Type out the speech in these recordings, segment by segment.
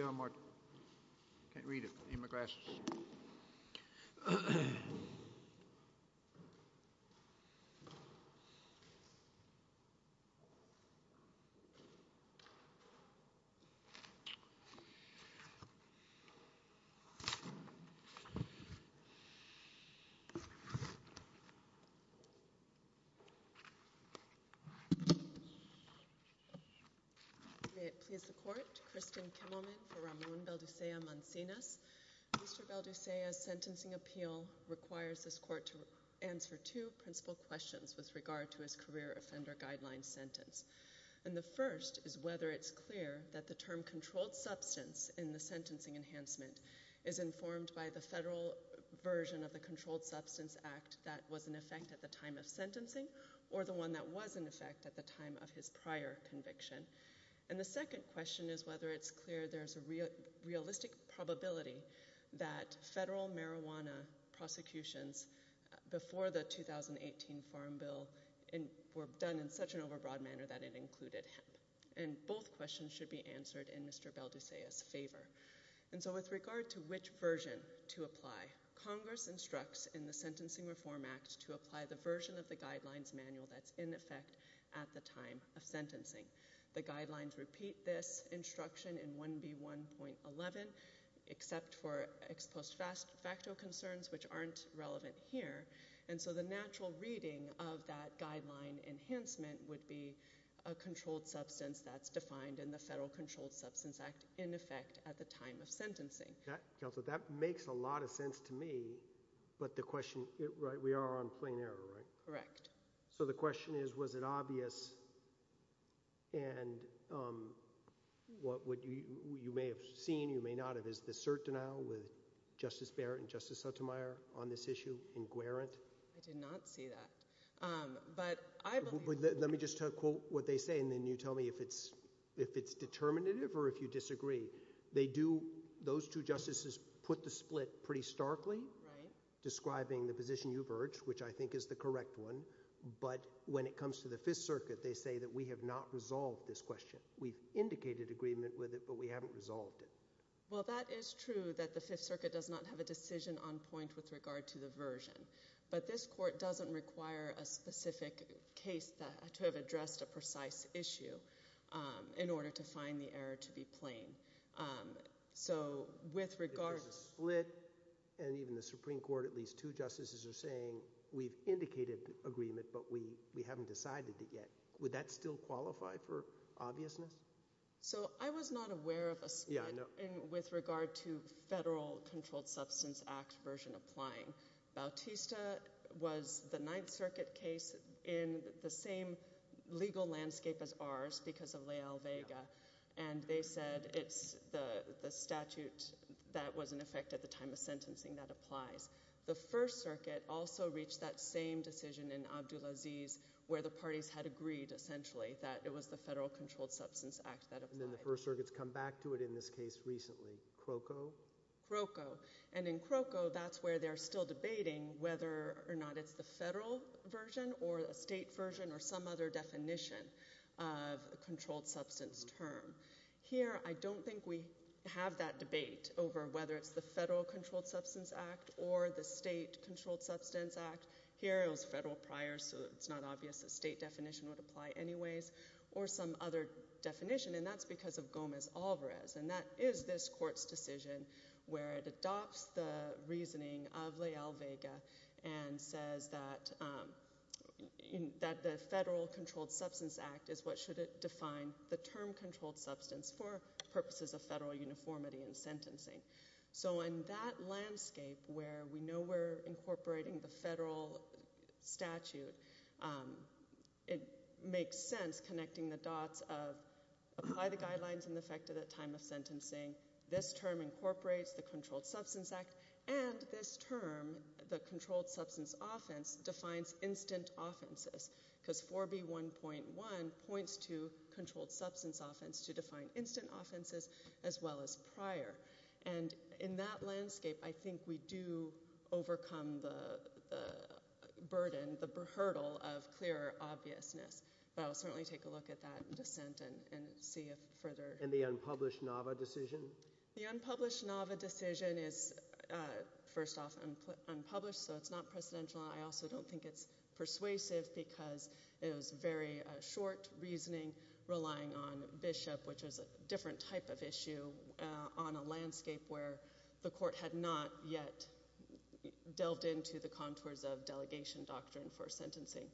You can't read it. Sentencing appeal requires this court to answer two principal questions with regard to his career offender guideline sentence. And the first is whether it's clear that the term controlled substance in the sentencing enhancement is informed by the federal version of the Controlled Substance Act that was in effect at the time of sentencing or the one that was in effect at the time of his prior conviction. And the second question is whether it's clear there's a realistic probability that federal marijuana prosecutions before the 2018 Farm Bill were done in such an overbroad manner that it included hemp. And both questions should be answered in Mr. Belducea's favor. And so with regard to which version to apply, Congress instructs in the Sentencing Reform Act to apply the version of the guidelines manual that's in effect at the time of sentencing. The guidelines repeat this instruction in 1B1.11 except for ex post facto concerns which aren't relevant here. And so the natural reading of that guideline enhancement would be a controlled substance that's defined in the Federal Controlled Substance Act in effect at the time of sentencing. That makes a lot of sense to me. But the question, right, we are on plain error, right? Correct. So the question is was it obvious and what you may have seen, you may not have, is the cert denial with Justice Barrett and Justice Sotomayor on this issue in Guarant? I did not see that. Let me just quote what they say and then you tell me if it's determinative or if you disagree. They do – those two justices put the split pretty starkly describing the position you've urged, which I think is the correct one. But when it comes to the Fifth Circuit, they say that we have not resolved this question. We've indicated agreement with it, but we haven't resolved it. Well, that is true that the Fifth Circuit does not have a decision on point with regard to the version. But this court doesn't require a specific case to have addressed a precise issue in order to find the error to be plain. So with regard – There's a split and even the Supreme Court, at least two justices are saying we've indicated agreement, but we haven't decided it yet. Would that still qualify for obviousness? So I was not aware of a split with regard to Federal Controlled Substance Act version applying. Bautista was the Ninth Circuit case in the same legal landscape as ours because of Leal-Vega. And they said it's the statute that was in effect at the time of sentencing that applies. The First Circuit also reached that same decision in Abdulaziz where the parties had agreed essentially that it was the Federal Controlled Substance Act that applied. And then the First Circuit's come back to it in this case recently. Crocco? Crocco. And in Crocco, that's where they're still debating whether or not it's the Federal version or a state version or some other definition of a controlled substance term. Here, I don't think we have that debate over whether it's the Federal Controlled Substance Act or the State Controlled Substance Act. Here it was Federal prior, so it's not obvious a state definition would apply anyways, or some other definition. And that's because of Gomez-Alvarez, and that is this court's decision where it adopts the reasoning of Leal-Vega and says that the Federal Controlled Substance Act is what should define the term controlled substance for purposes of federal uniformity in sentencing. So in that landscape where we know we're incorporating the federal statute, it makes sense connecting the dots of apply the guidelines in effect at the time of sentencing. This term incorporates the Controlled Substance Act, and this term, the controlled substance offense, defines instant offenses because 4B1.1 points to controlled substance offense to define instant offenses as well as prior. And in that landscape, I think we do overcome the burden, the hurdle of clearer obviousness. But I will certainly take a look at that in dissent and see if further – And the unpublished NAVA decision? The unpublished NAVA decision is, first off, unpublished, so it's not precedential. I also don't think it's persuasive because it was very short reasoning relying on Bishop, which was a different type of issue on a landscape where the court had not yet delved into the contours of delegation doctrine for sentencing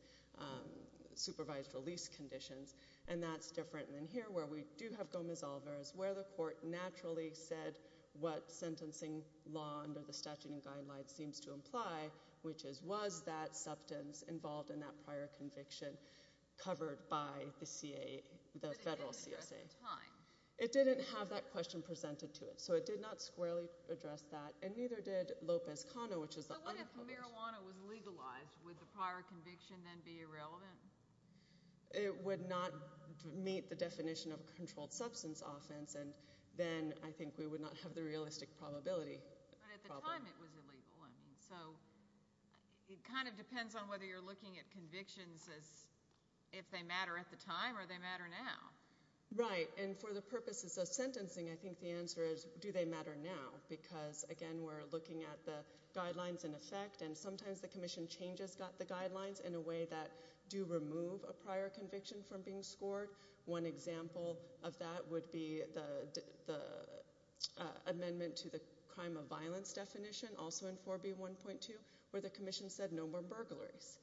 supervised release conditions. And that's different than here where we do have Gomez-Alvarez where the court naturally said what sentencing law under the statute and guidelines seems to imply, which is was that substance involved in that prior conviction covered by the federal CSA? It didn't have that question presented to it, so it did not squarely address that, and neither did Lopez-Cano, which is the unpublished – So what if marijuana was legalized? Would the prior conviction then be irrelevant? It would not meet the definition of a controlled substance offense, and then I think we would not have the realistic probability. But at the time it was illegal, so it kind of depends on whether you're looking at convictions as if they matter at the time or they matter now. Right, and for the purposes of sentencing, I think the answer is do they matter now because, again, we're looking at the guidelines in effect, and sometimes the commission changes the guidelines in a way that do remove a prior conviction from being scored. One example of that would be the amendment to the crime of violence definition, also in 4B1.2, where the commission said no more burglaries.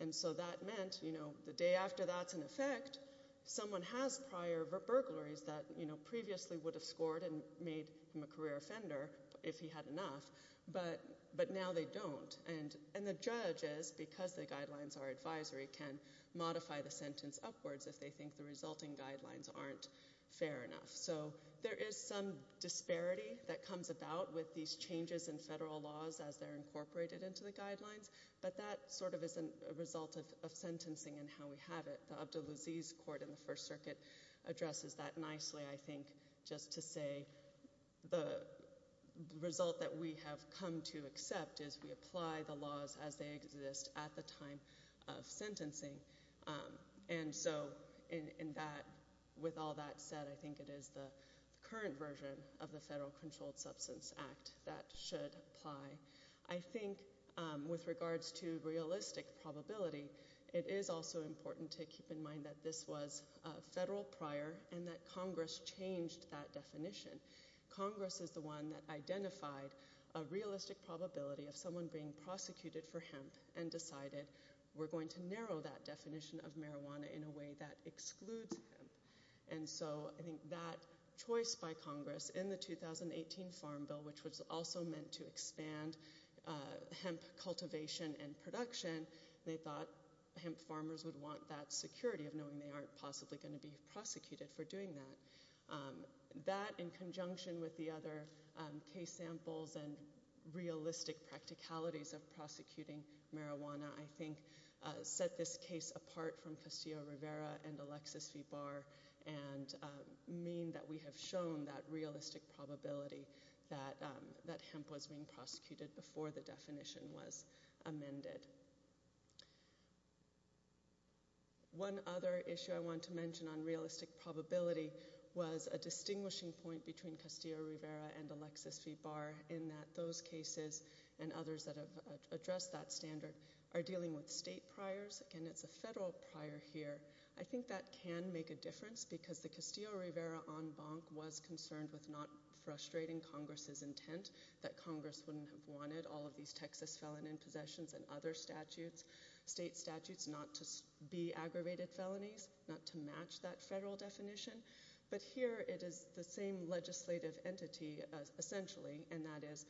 And so that meant the day after that's in effect, someone has prior burglaries that previously would have scored and made him a career offender if he had enough, but now they don't. And the judge is, because the guidelines are advisory, can modify the sentence upwards if they think the resulting guidelines aren't fair enough. So there is some disparity that comes about with these changes in federal laws as they're incorporated into the guidelines, but that sort of is a result of sentencing and how we have it. The Abdulaziz Court in the First Circuit addresses that nicely, I think, just to say the result that we have come to accept is we apply the laws as they exist at the time of sentencing. And so with all that said, I think it is the current version of the Federal Controlled Substance Act that should apply. I think with regards to realistic probability, it is also important to keep in mind that this was federal prior and that Congress changed that definition. Congress is the one that identified a realistic probability of someone being prosecuted for hemp and decided we're going to narrow that definition of marijuana in a way that excludes hemp. And so I think that choice by Congress in the 2018 Farm Bill, which was also meant to expand hemp cultivation and production, they thought hemp farmers would want that security of knowing they aren't possibly going to be prosecuted for doing that. That, in conjunction with the other case samples and realistic practicalities of prosecuting marijuana, I think, set this case apart from Castillo-Rivera and Alexis v. Barr and mean that we have shown that realistic probability that hemp was being prosecuted before the definition was amended. One other issue I want to mention on realistic probability was a distinguishing point between Castillo-Rivera and Alexis v. Barr in that those cases and others that have addressed that standard are dealing with state priors. Again, it's a federal prior here. I think that can make a difference because the Castillo-Rivera en banc was concerned with not frustrating Congress's intent that Congress wouldn't have wanted all of these Texas felon in possessions and other statutes, state statutes, not to be aggravated felonies, not to match that federal definition. But here it is the same legislative entity, essentially, and that is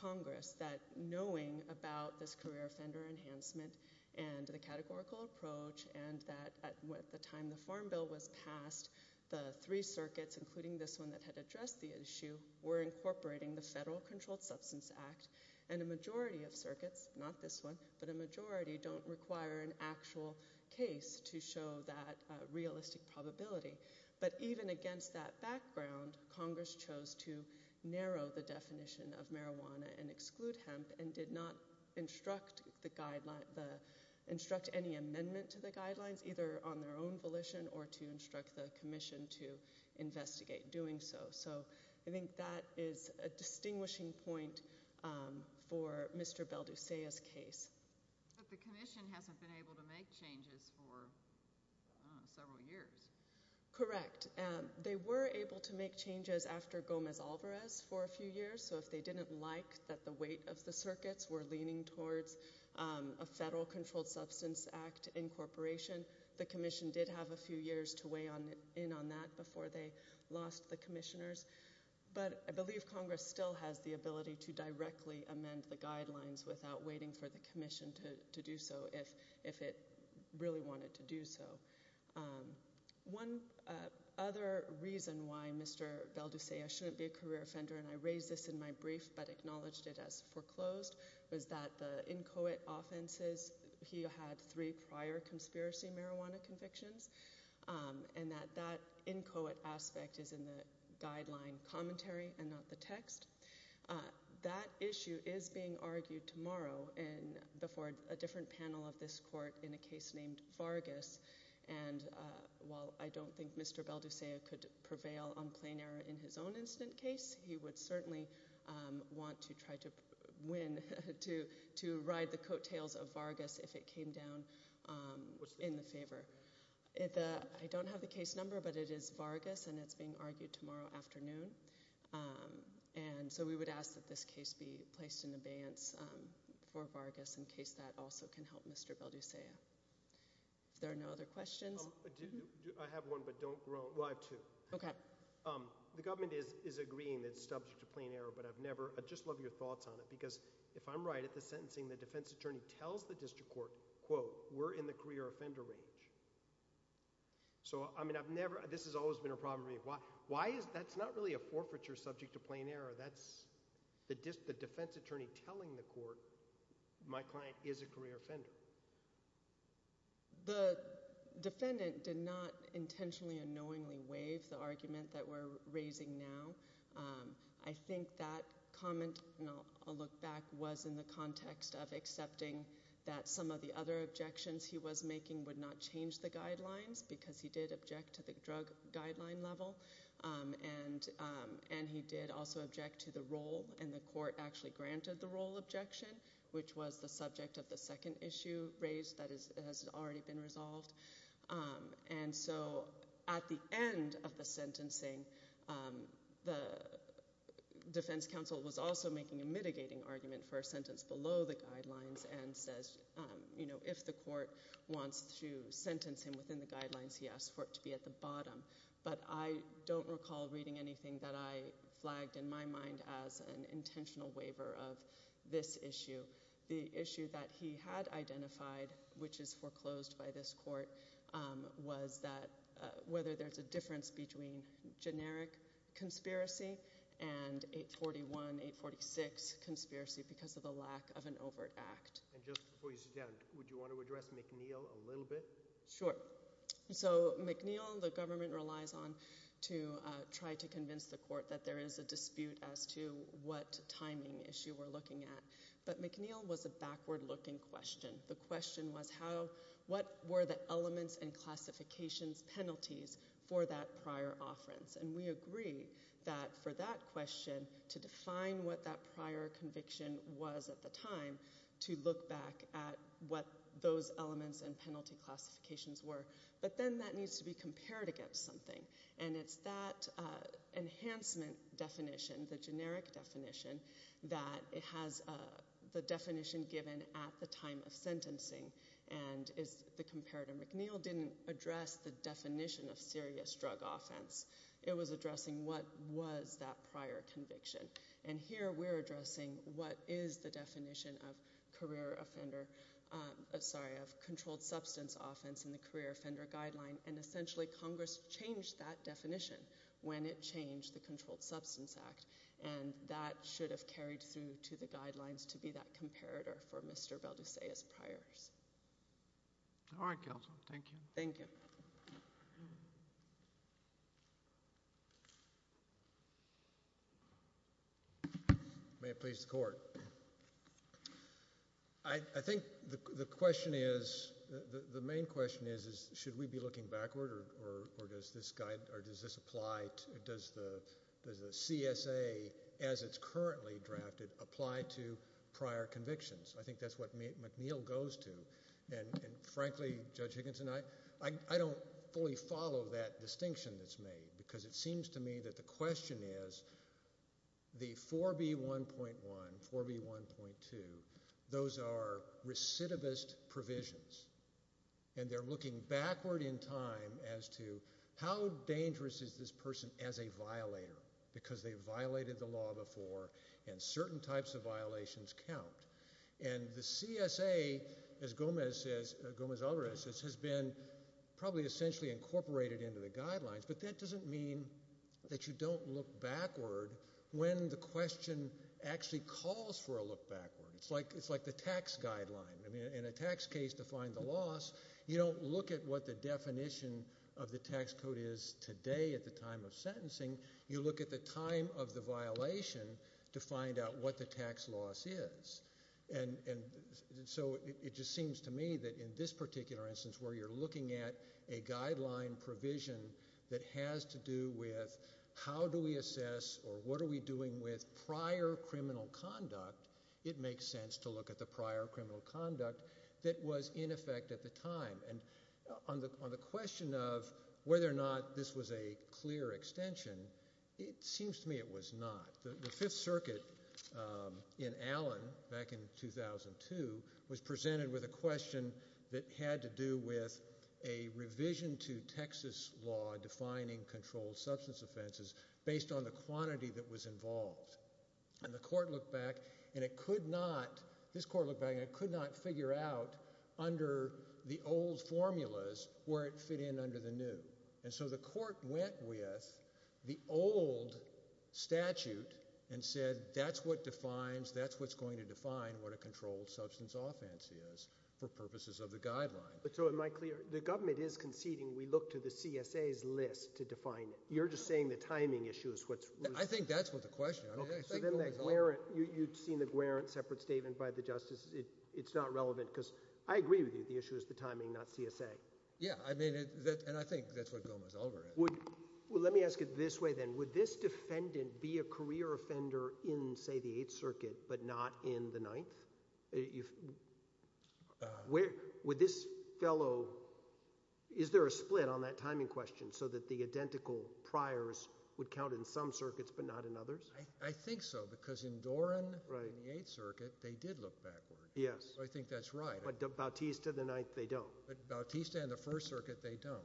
Congress, that knowing about this career offender enhancement and the categorical approach and that at the time the Farm Bill was passed, the three circuits, including this one that had addressed the issue, were incorporating the Federal Controlled Substance Act and a majority of circuits, not this one, but a majority don't require an actual case to show that realistic probability. But even against that background, Congress chose to narrow the definition of marijuana and exclude hemp and did not instruct any amendment to the guidelines, either on their own volition or to instruct the commission to investigate doing so. So I think that is a distinguishing point for Mr. Belducea's case. But the commission hasn't been able to make changes for several years. Correct. They were able to make changes after Gomez-Alvarez for a few years. So if they didn't like that the weight of the circuits were leaning towards a Federal Controlled Substance Act incorporation, the commission did have a few years to weigh in on that before they lost the commissioners. But I believe Congress still has the ability to directly amend the guidelines without waiting for the commission to do so if it really wanted to do so. One other reason why Mr. Belducea shouldn't be a career offender, and I raised this in my brief but acknowledged it as foreclosed, was that the inchoate offenses, he had three prior conspiracy marijuana convictions, and that that inchoate aspect is in the guideline commentary and not the text. That issue is being argued tomorrow before a different panel of this court in a case named Vargas. And while I don't think Mr. Belducea could prevail on plain error in his own incident case, he would certainly want to try to win to ride the coattails of Vargas if it came down in the favor. I don't have the case number, but it is Vargas, and it's being argued tomorrow afternoon. And so we would ask that this case be placed in abeyance for Vargas in case that also can help Mr. Belducea. If there are no other questions. I have one, but don't groan. I have two. Okay. The government is agreeing that it's subject to plain error, but I've never – I'd just love your thoughts on it because if I'm right at the sentencing, the defense attorney tells the district court, quote, we're in the career offender range. So, I mean, I've never – this has always been a problem for me. Why is – that's not really a forfeiture subject to plain error. That's the defense attorney telling the court my client is a career offender. The defendant did not intentionally and knowingly waive the argument that we're raising now. I think that comment, and I'll look back, was in the context of accepting that some of the other objections he was making would not change the guidelines because he did object to the drug guideline level, and he did also object to the role, and the court actually granted the role objection, which was the subject of the second issue raised that has already been resolved. And so at the end of the sentencing, the defense counsel was also making a mitigating argument for a sentence below the guidelines and says if the court wants to sentence him within the guidelines, he asks for it to be at the bottom. But I don't recall reading anything that I flagged in my mind as an intentional waiver of this issue. The issue that he had identified, which is foreclosed by this court, was that whether there's a difference between generic conspiracy and 841, 846 conspiracy because of the lack of an overt act. And just before you sit down, would you want to address McNeil a little bit? Sure. So McNeil, the government relies on to try to convince the court that there is a dispute as to what timing issue we're looking at. But McNeil was a backward-looking question. The question was what were the elements and classifications penalties for that prior offerance? And we agree that for that question, to define what that prior conviction was at the time, to look back at what those elements and penalty classifications were. But then that needs to be compared against something. And it's that enhancement definition, the generic definition, that it has the definition given at the time of sentencing. And the comparator McNeil didn't address the definition of serious drug offense. It was addressing what was that prior conviction. And here we're addressing what is the definition of controlled substance offense in the career offender guideline. And essentially Congress changed that definition when it changed the Controlled Substance Act. And that should have carried through to the guidelines to be that comparator for Mr. Belducea's priors. All right, counsel. Thank you. Thank you. May it please the Court. I think the question is, the main question is, should we be looking backward or does this apply, does the CSA as it's currently drafted apply to prior convictions? I think that's what McNeil goes to. And frankly, Judge Higginson, I don't fully follow that distinction that's made because it seems to me that the question is the 4B1.1, 4B1.2, those are recidivist provisions. And they're looking backward in time as to how dangerous is this person as a violator because they violated the law before and certain types of violations count. And the CSA, as Gomez Alvarez says, has been probably essentially incorporated into the guidelines, but that doesn't mean that you don't look backward when the question actually calls for a look backward. It's like the tax guideline. In a tax case to find the loss, you don't look at what the definition of the tax code is today at the time of sentencing. You look at the time of the violation to find out what the tax loss is. So it just seems to me that in this particular instance where you're looking at a guideline provision that has to do with how do we assess or what are we doing with prior criminal conduct, it makes sense to look at the prior criminal conduct that was in effect at the time. And on the question of whether or not this was a clear extension, it seems to me it was not. The Fifth Circuit in Allen back in 2002 was presented with a question that had to do with a revision to Texas law defining controlled substance offenses based on the quantity that was involved. And the court looked back, and it could not figure out under the old formulas where it fit in under the new. And so the court went with the old statute and said that's what defines, that's what's going to define what a controlled substance offense is for purposes of the guideline. So am I clear? The government is conceding we look to the CSA's list to define it. You're just saying the timing issue is what's – I think that's what the question is. You've seen the Guarant separate statement by the justice. It's not relevant because I agree with you. The issue is the timing, not CSA. Yeah, I mean – and I think that's what Gomez-Ulver had. Well, let me ask it this way then. Would this defendant be a career offender in, say, the Eighth Circuit but not in the Ninth? Would this fellow – is there a split on that timing question so that the identical priors would count in some circuits but not in others? I think so because in Doran in the Eighth Circuit they did look backward. Yes. So I think that's right. But Bautista, the Ninth, they don't. But Bautista and the First Circuit, they don't.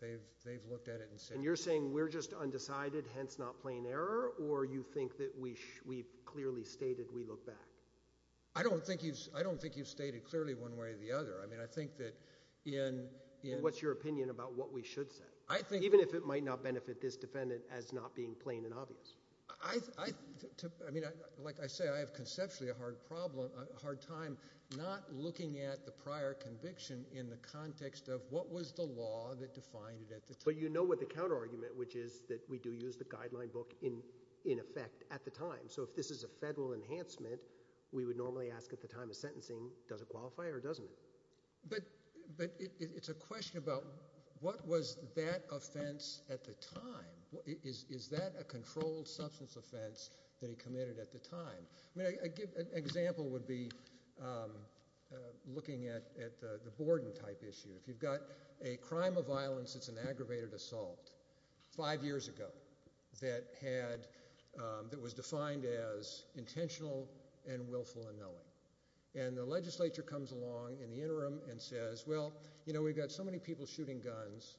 They've looked at it and said – And you're saying we're just undecided, hence not plain error, or you think that we've clearly stated we look back? I don't think you've stated clearly one way or the other. I mean I think that in – What's your opinion about what we should say? I think – Even if it might not benefit this defendant as not being plain and obvious. I mean, like I say, I have conceptually a hard time not looking at the prior conviction in the context of what was the law that defined it at the time. But you know what the counterargument, which is that we do use the guideline book in effect at the time. So if this is a federal enhancement, we would normally ask at the time of sentencing, does it qualify or doesn't it? But it's a question about what was that offense at the time? Is that a controlled substance offense that he committed at the time? I mean an example would be looking at the Borden-type issue. If you've got a crime of violence, it's an aggravated assault five years ago that had – that was defined as intentional and willful unknowing. And the legislature comes along in the interim and says, well, you know, we've got so many people shooting guns.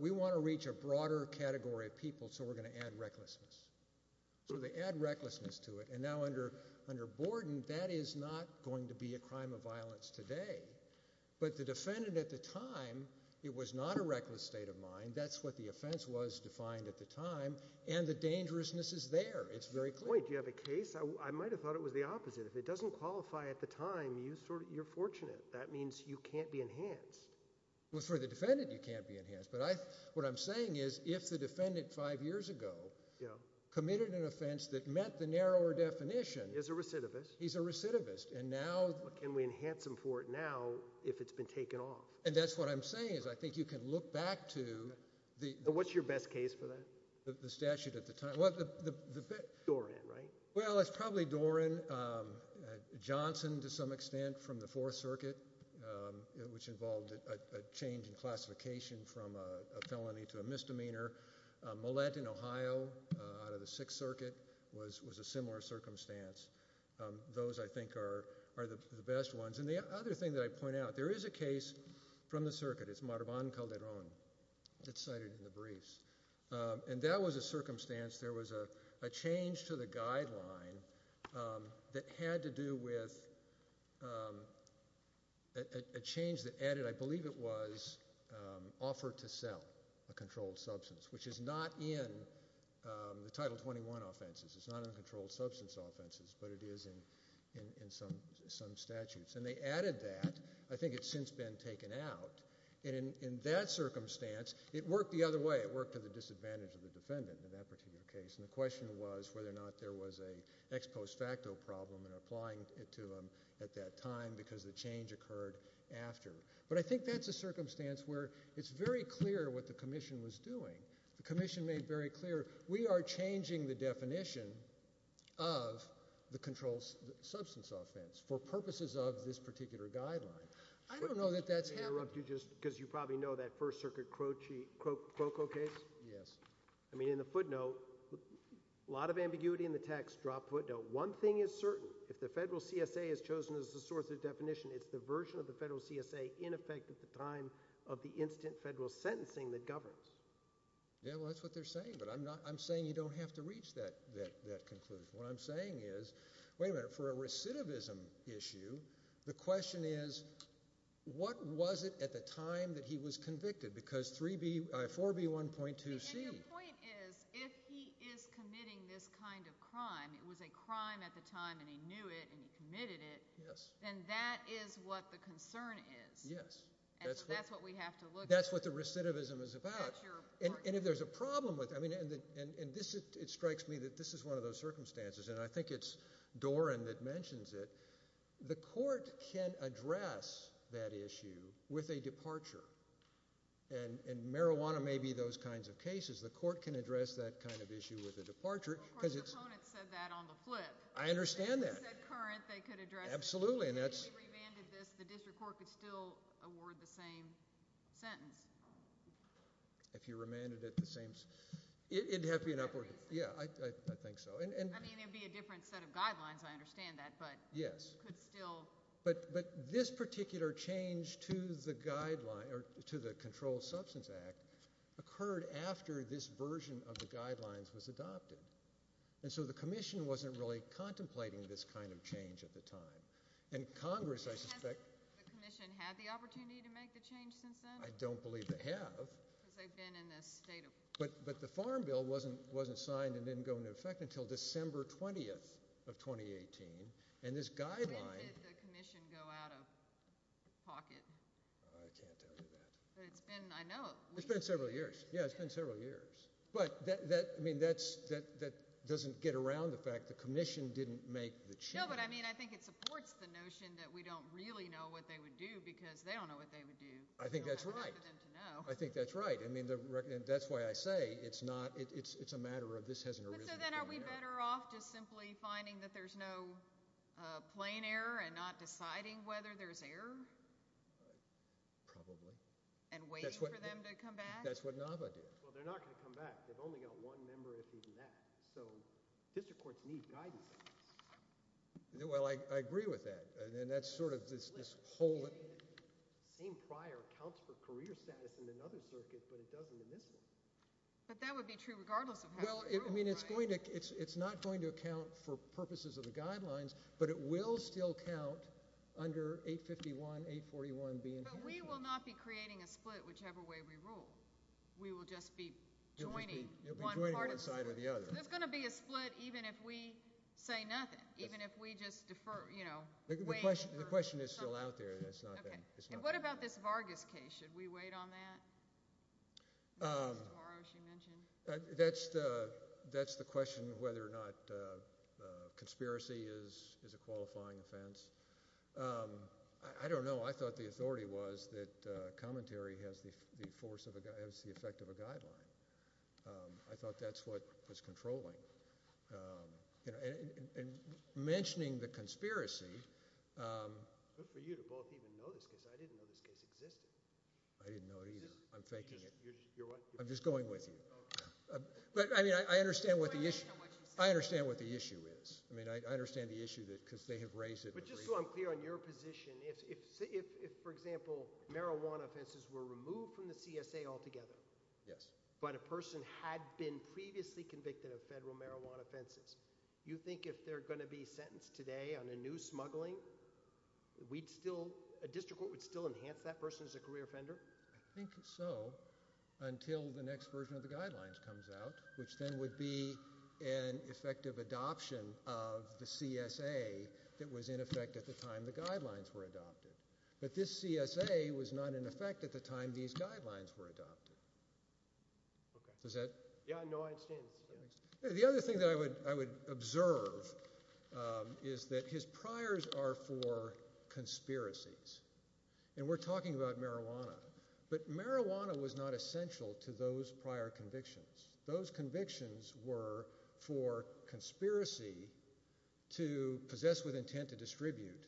We want to reach a broader category of people, so we're going to add recklessness. So they add recklessness to it. And now under Borden, that is not going to be a crime of violence today. But the defendant at the time, it was not a reckless state of mind. That's what the offense was defined at the time. And the dangerousness is there. It's very clear. Wait, do you have a case? I might have thought it was the opposite. If it doesn't qualify at the time, you're fortunate. That means you can't be enhanced. Well, for the defendant, you can't be enhanced. But what I'm saying is if the defendant five years ago committed an offense that met the narrower definition – He's a recidivist. He's a recidivist. And now – Can we enhance him for it now if it's been taken off? And that's what I'm saying is I think you can look back to – What's your best case for that? The statute at the time. Doran, right? Well, it's probably Doran. Johnson, to some extent, from the Fourth Circuit, which involved a change in classification from a felony to a misdemeanor. Millett in Ohio out of the Sixth Circuit was a similar circumstance. Those, I think, are the best ones. And the other thing that I point out, there is a case from the circuit. It's Marvan Calderon. It's cited in the briefs. And that was a circumstance. There was a change to the guideline that had to do with a change that added, I believe it was, offer to sell a controlled substance, which is not in the Title 21 offenses. It's not in the controlled substance offenses, but it is in some statutes. And they added that. I think it's since been taken out. And in that circumstance, it worked the other way. It worked to the disadvantage of the defendant in that particular case. And the question was whether or not there was an ex post facto problem in applying it to him at that time because the change occurred after. But I think that's a circumstance where it's very clear what the Commission was doing. The Commission made very clear we are changing the definition of the controlled substance offense for purposes of this particular guideline. I don't know that that's happening. Can I interrupt you just because you probably know that First Circuit Croco case? Yes. I mean, in the footnote, a lot of ambiguity in the text, drop footnote. One thing is certain. If the federal CSA has chosen as the source of definition, it's the version of the federal CSA in effect at the time of the instant federal sentencing that governs. Yeah, well, that's what they're saying. But I'm saying you don't have to reach that conclusion. What I'm saying is, wait a minute, for a recidivism issue, the question is what was it at the time that he was convicted because 4B1.2C. And your point is if he is committing this kind of crime, it was a crime at the time and he knew it and he committed it. Yes. Then that is what the concern is. Yes. And so that's what we have to look at. That's what the recidivism is about. And if there's a problem with it, and it strikes me that this is one of those circumstances, and I think it's Doran that mentions it. The court can address that issue with a departure, and marijuana may be those kinds of cases. The court can address that kind of issue with a departure. Of course, the opponent said that on the flip. I understand that. They said current. They could address it. Absolutely. If he remanded this, the district court could still award the same sentence. If he remanded it the same – it would have to be an upward – yeah, I think so. I mean, it would be a different set of guidelines. I understand that. Yes. But could still – But this particular change to the guideline – or to the Controlled Substance Act occurred after this version of the guidelines was adopted. And so the commission wasn't really contemplating this kind of change at the time. And Congress, I suspect – Has the commission had the opportunity to make the change since then? I don't believe they have. Because they've been in this state of – But the Farm Bill wasn't signed and didn't go into effect until December 20th of 2018. And this guideline – When did the commission go out of pocket? I can't tell you that. But it's been, I know – It's been several years. Yeah, it's been several years. But, I mean, that doesn't get around the fact the commission didn't make the change. No, but, I mean, I think it supports the notion that we don't really know what they would do because they don't know what they would do. I think that's right. We don't have much for them to know. I think that's right. I mean, that's why I say it's not – it's a matter of this hasn't arisen from now. But so then are we better off just simply finding that there's no plain error and not deciding whether there's error? Probably. And waiting for them to come back? That's what NAVA did. Well, they're not going to come back. They've only got one member, if even that. So district courts need guidance on this. Well, I agree with that. And that's sort of this whole – The same prior accounts for career status in another circuit, but it doesn't in this one. But that would be true regardless of how you rule, right? Well, I mean, it's going to – it's not going to account for purposes of the guidelines, but it will still count under 851, 841 being – But we will not be creating a split whichever way we rule. We will just be joining one part of the – You'll be joining one side or the other. There's going to be a split even if we say nothing, even if we just defer, you know, waiting for – The question is still out there. It's not – Okay. And what about this Vargas case? Should we wait on that? Tomorrow, she mentioned. That's the question whether or not conspiracy is a qualifying offense. I don't know. I thought the authority was that commentary has the force of a – has the effect of a guideline. I thought that's what was controlling. And mentioning the conspiracy – It's good for you to both even know this because I didn't know this case existed. I didn't know it either. I'm faking it. You're what? I'm just going with you. But, I mean, I understand what the issue – I understand what the issue is. I mean, I understand the issue because they have raised it. But just so I'm clear on your position, if, for example, marijuana offenses were removed from the CSA altogether. Yes. But a person had been previously convicted of federal marijuana offenses, you think if they're going to be sentenced today on a new smuggling, we'd still – a district court would still enhance that person as a career offender? I think so until the next version of the guidelines comes out, which then would be an effective adoption of the CSA that was in effect at the time the guidelines were adopted. But this CSA was not in effect at the time these guidelines were adopted. Okay. Does that – Yeah, no, I understand. The other thing that I would observe is that his priors are for conspiracies. And we're talking about marijuana. But marijuana was not essential to those prior convictions. Those convictions were for conspiracy to possess with intent to distribute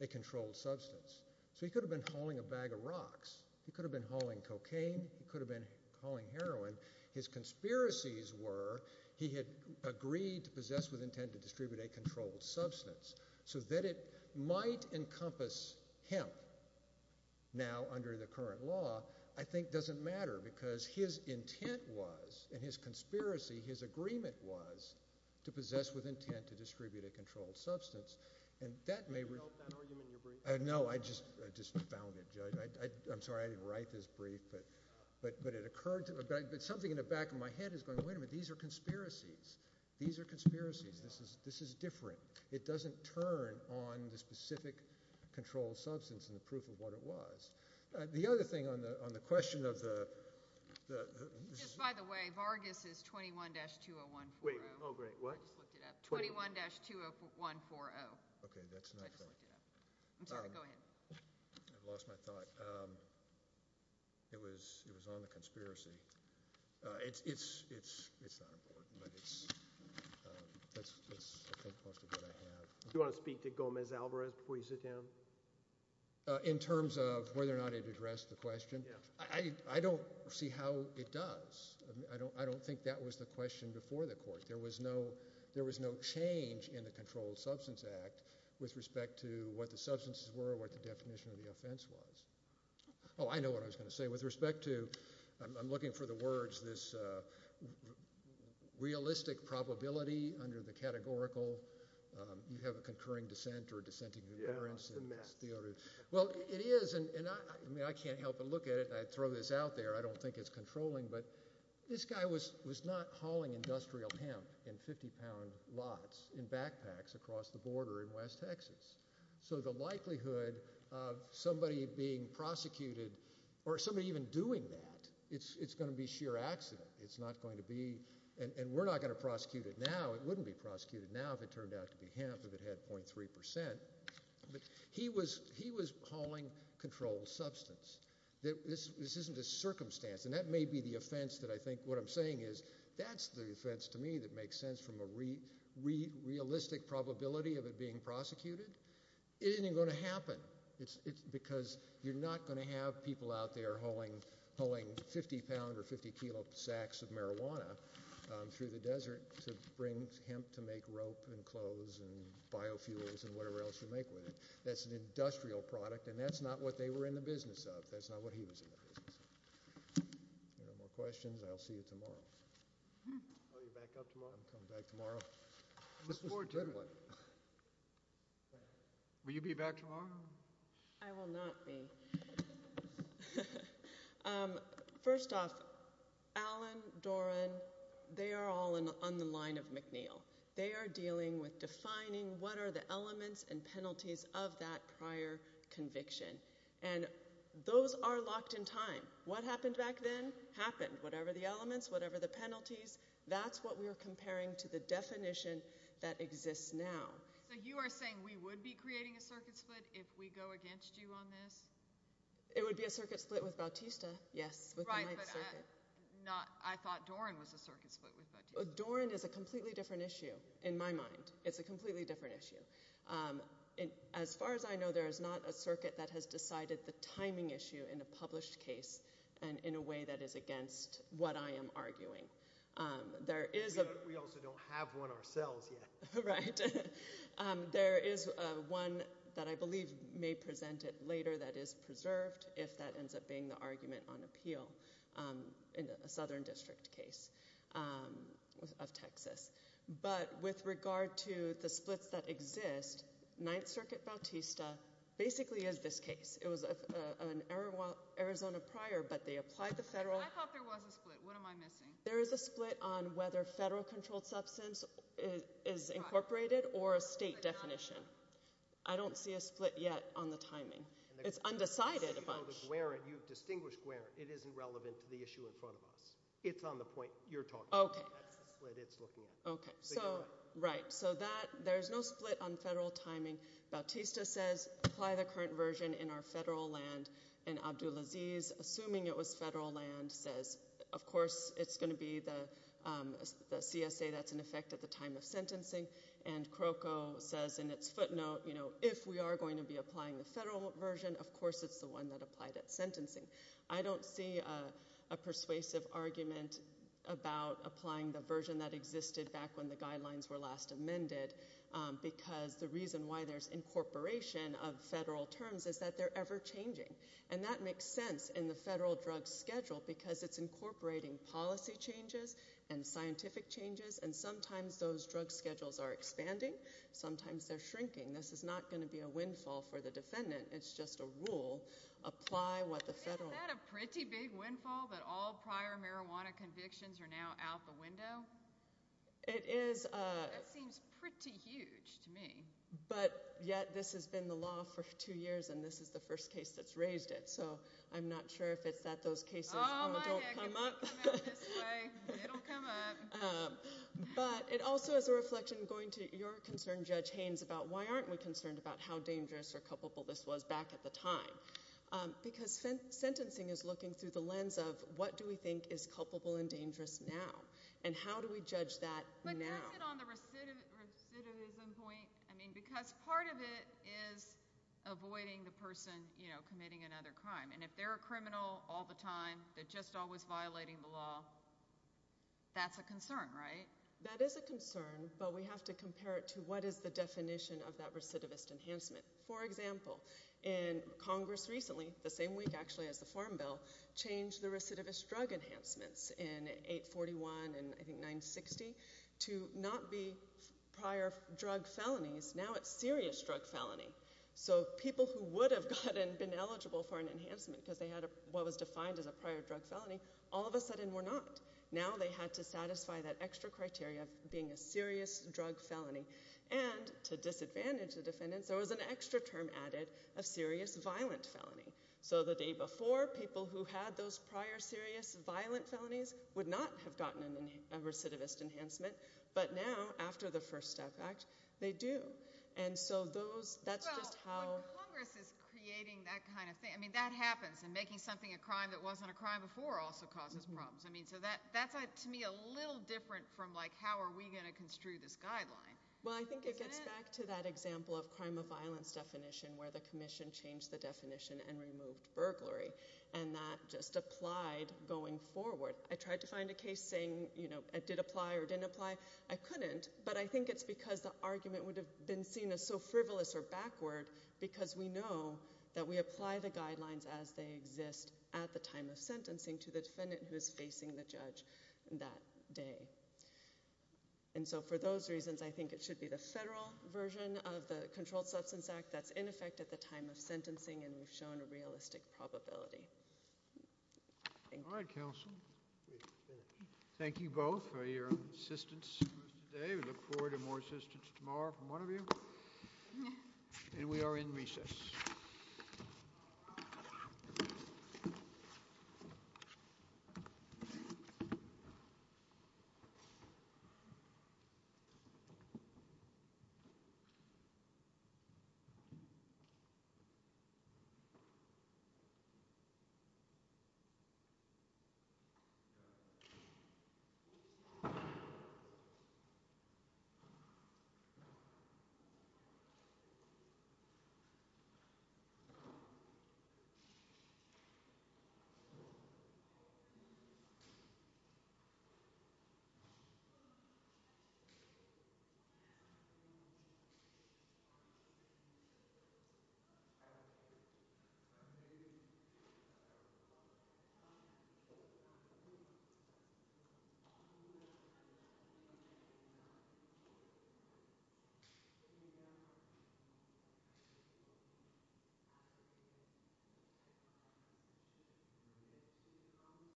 a controlled substance. So he could have been hauling a bag of rocks. He could have been hauling cocaine. He could have been hauling heroin. His conspiracies were he had agreed to possess with intent to distribute a controlled substance so that it might encompass him now under the current law I think doesn't matter because his intent was and his conspiracy, his agreement was to possess with intent to distribute a controlled substance. And that may – Did you help that argument in your brief? No, I just found it. I'm sorry I didn't write this brief, but it occurred to me. But something in the back of my head is going, wait a minute, these are conspiracies. These are conspiracies. This is different. It doesn't turn on the specific controlled substance and the proof of what it was. The other thing on the question of the – Just by the way, Vargas is 21-20140. Wait, oh, great. What? I just looked it up. 21-20140. Okay, that's not right. I just looked it up. I'm sorry. Go ahead. I lost my thought. It was on the conspiracy. It's not important, but it's I think most of what I have. Do you want to speak to Gomez-Alvarez before you sit down? In terms of whether or not it addressed the question? Yeah. I don't see how it does. I don't think that was the question before the court. There was no change in the Controlled Substance Act with respect to what the substances were or what the definition of the offense was. Oh, I know what I was going to say. With respect to – I'm looking for the words – this realistic probability under the categorical. You have a concurring dissent or dissenting concurrence. Yeah, it's a mess. Well, it is, and I can't help but look at it. I'd throw this out there. I don't think it's controlling, but this guy was not hauling industrial hemp in 50-pound lots in backpacks across the border in West Texas. So the likelihood of somebody being prosecuted or somebody even doing that, it's going to be sheer accident. It's not going to be – and we're not going to prosecute it now. It wouldn't be prosecuted now if it turned out to be hemp, if it had 0.3%. But he was hauling controlled substance. This isn't a circumstance, and that may be the offense that I think – what I'm saying is that's the offense to me that makes sense from a realistic probability of it being prosecuted. It isn't going to happen because you're not going to have people out there hauling 50-pound or 50-kilo sacks of marijuana through the desert to bring hemp to make rope and clothes and biofuels and whatever else you make with it. That's an industrial product, and that's not what they were in the business of. That's not what he was in the business of. If there are no more questions, I'll see you tomorrow. Oh, you're back up tomorrow? I'm coming back tomorrow. Will you be back tomorrow? I will not be. First off, Allen, Doran, they are all on the line of McNeil. They are dealing with defining what are the elements and penalties of that prior conviction, and those are locked in time. What happened back then happened, whatever the elements, whatever the penalties. That's what we are comparing to the definition that exists now. So you are saying we would be creating a circuit split if we go against you on this? It would be a circuit split with Bautista, yes. Right, but I thought Doran was a circuit split with Bautista. Doran is a completely different issue in my mind. It's a completely different issue. As far as I know, there is not a circuit that has decided the timing issue in a published case and in a way that is against what I am arguing. We also don't have one ourselves yet. Right. There is one that I believe may present it later that is preserved if that ends up being the argument on appeal in a southern district case of Texas. But with regard to the splits that exist, Ninth Circuit Bautista basically is this case. It was an Arizona prior, but they applied the federal – I thought there was a split. What am I missing? There is a split on whether federal controlled substance is incorporated or a state definition. I don't see a split yet on the timing. It's undecided. You have distinguished Guarant. It isn't relevant to the issue in front of us. It's on the point you're talking about. That's the split it's looking at. Right. There is no split on federal timing. Bautista says, apply the current version in our federal land. And Abdulaziz, assuming it was federal land, says, of course, it's going to be the CSA that's in effect at the time of sentencing. And Crocco says in its footnote, if we are going to be applying the federal version, of course, it's the one that applied at sentencing. I don't see a persuasive argument about applying the version that existed back when the guidelines were last amended because the reason why there's incorporation of federal terms is that they're ever changing. And that makes sense in the federal drug schedule because it's incorporating policy changes and scientific changes. And sometimes those drug schedules are expanding. Sometimes they're shrinking. This is not going to be a windfall for the defendant. It's just a rule. Is that a pretty big windfall that all prior marijuana convictions are now out the window? It is. That seems pretty huge to me. But yet this has been the law for two years, and this is the first case that's raised it. So I'm not sure if it's that those cases don't come up. Oh, my heck, if they come out this way, it'll come up. But it also is a reflection going to your concern, Judge Haynes, about why aren't we concerned about how dangerous or culpable this was back at the time? Because sentencing is looking through the lens of what do we think is culpable and dangerous now, and how do we judge that now? But does it on the recidivism point? I mean because part of it is avoiding the person committing another crime. And if they're a criminal all the time, they're just always violating the law, that's a concern, right? That is a concern, but we have to compare it to what is the definition of that recidivist enhancement. For example, in Congress recently, the same week actually as the Farm Bill, changed the recidivist drug enhancements in 841 and I think 960 to not be prior drug felonies. Now it's serious drug felony. So people who would have been eligible for an enhancement because they had what was defined as a prior drug felony, all of a sudden were not. Now they had to satisfy that extra criteria of being a serious drug felony. And to disadvantage the defendants, there was an extra term added of serious violent felony. So the day before, people who had those prior serious violent felonies would not have gotten a recidivist enhancement. But now, after the First Step Act, they do. Well, when Congress is creating that kind of thing, that happens. And making something a crime that wasn't a crime before also causes problems. So that's to me a little different from how are we going to construe this guideline. Well, I think it gets back to that example of crime of violence definition where the commission changed the definition and removed burglary. And that just applied going forward. I tried to find a case saying it did apply or didn't apply. I couldn't, but I think it's because the argument would have been seen as so frivolous or backward because we know that we apply the guidelines as they exist at the time of sentencing to the defendant who is facing the judge that day. And so for those reasons, I think it should be the federal version of the Controlled Substance Act that's in effect at the time of sentencing, and we've shown a realistic probability. Thank you. Thank you, counsel. Thank you both for your assistance today. We look forward to more assistance tomorrow from one of you. And we are in recess. Thank you. Thank you.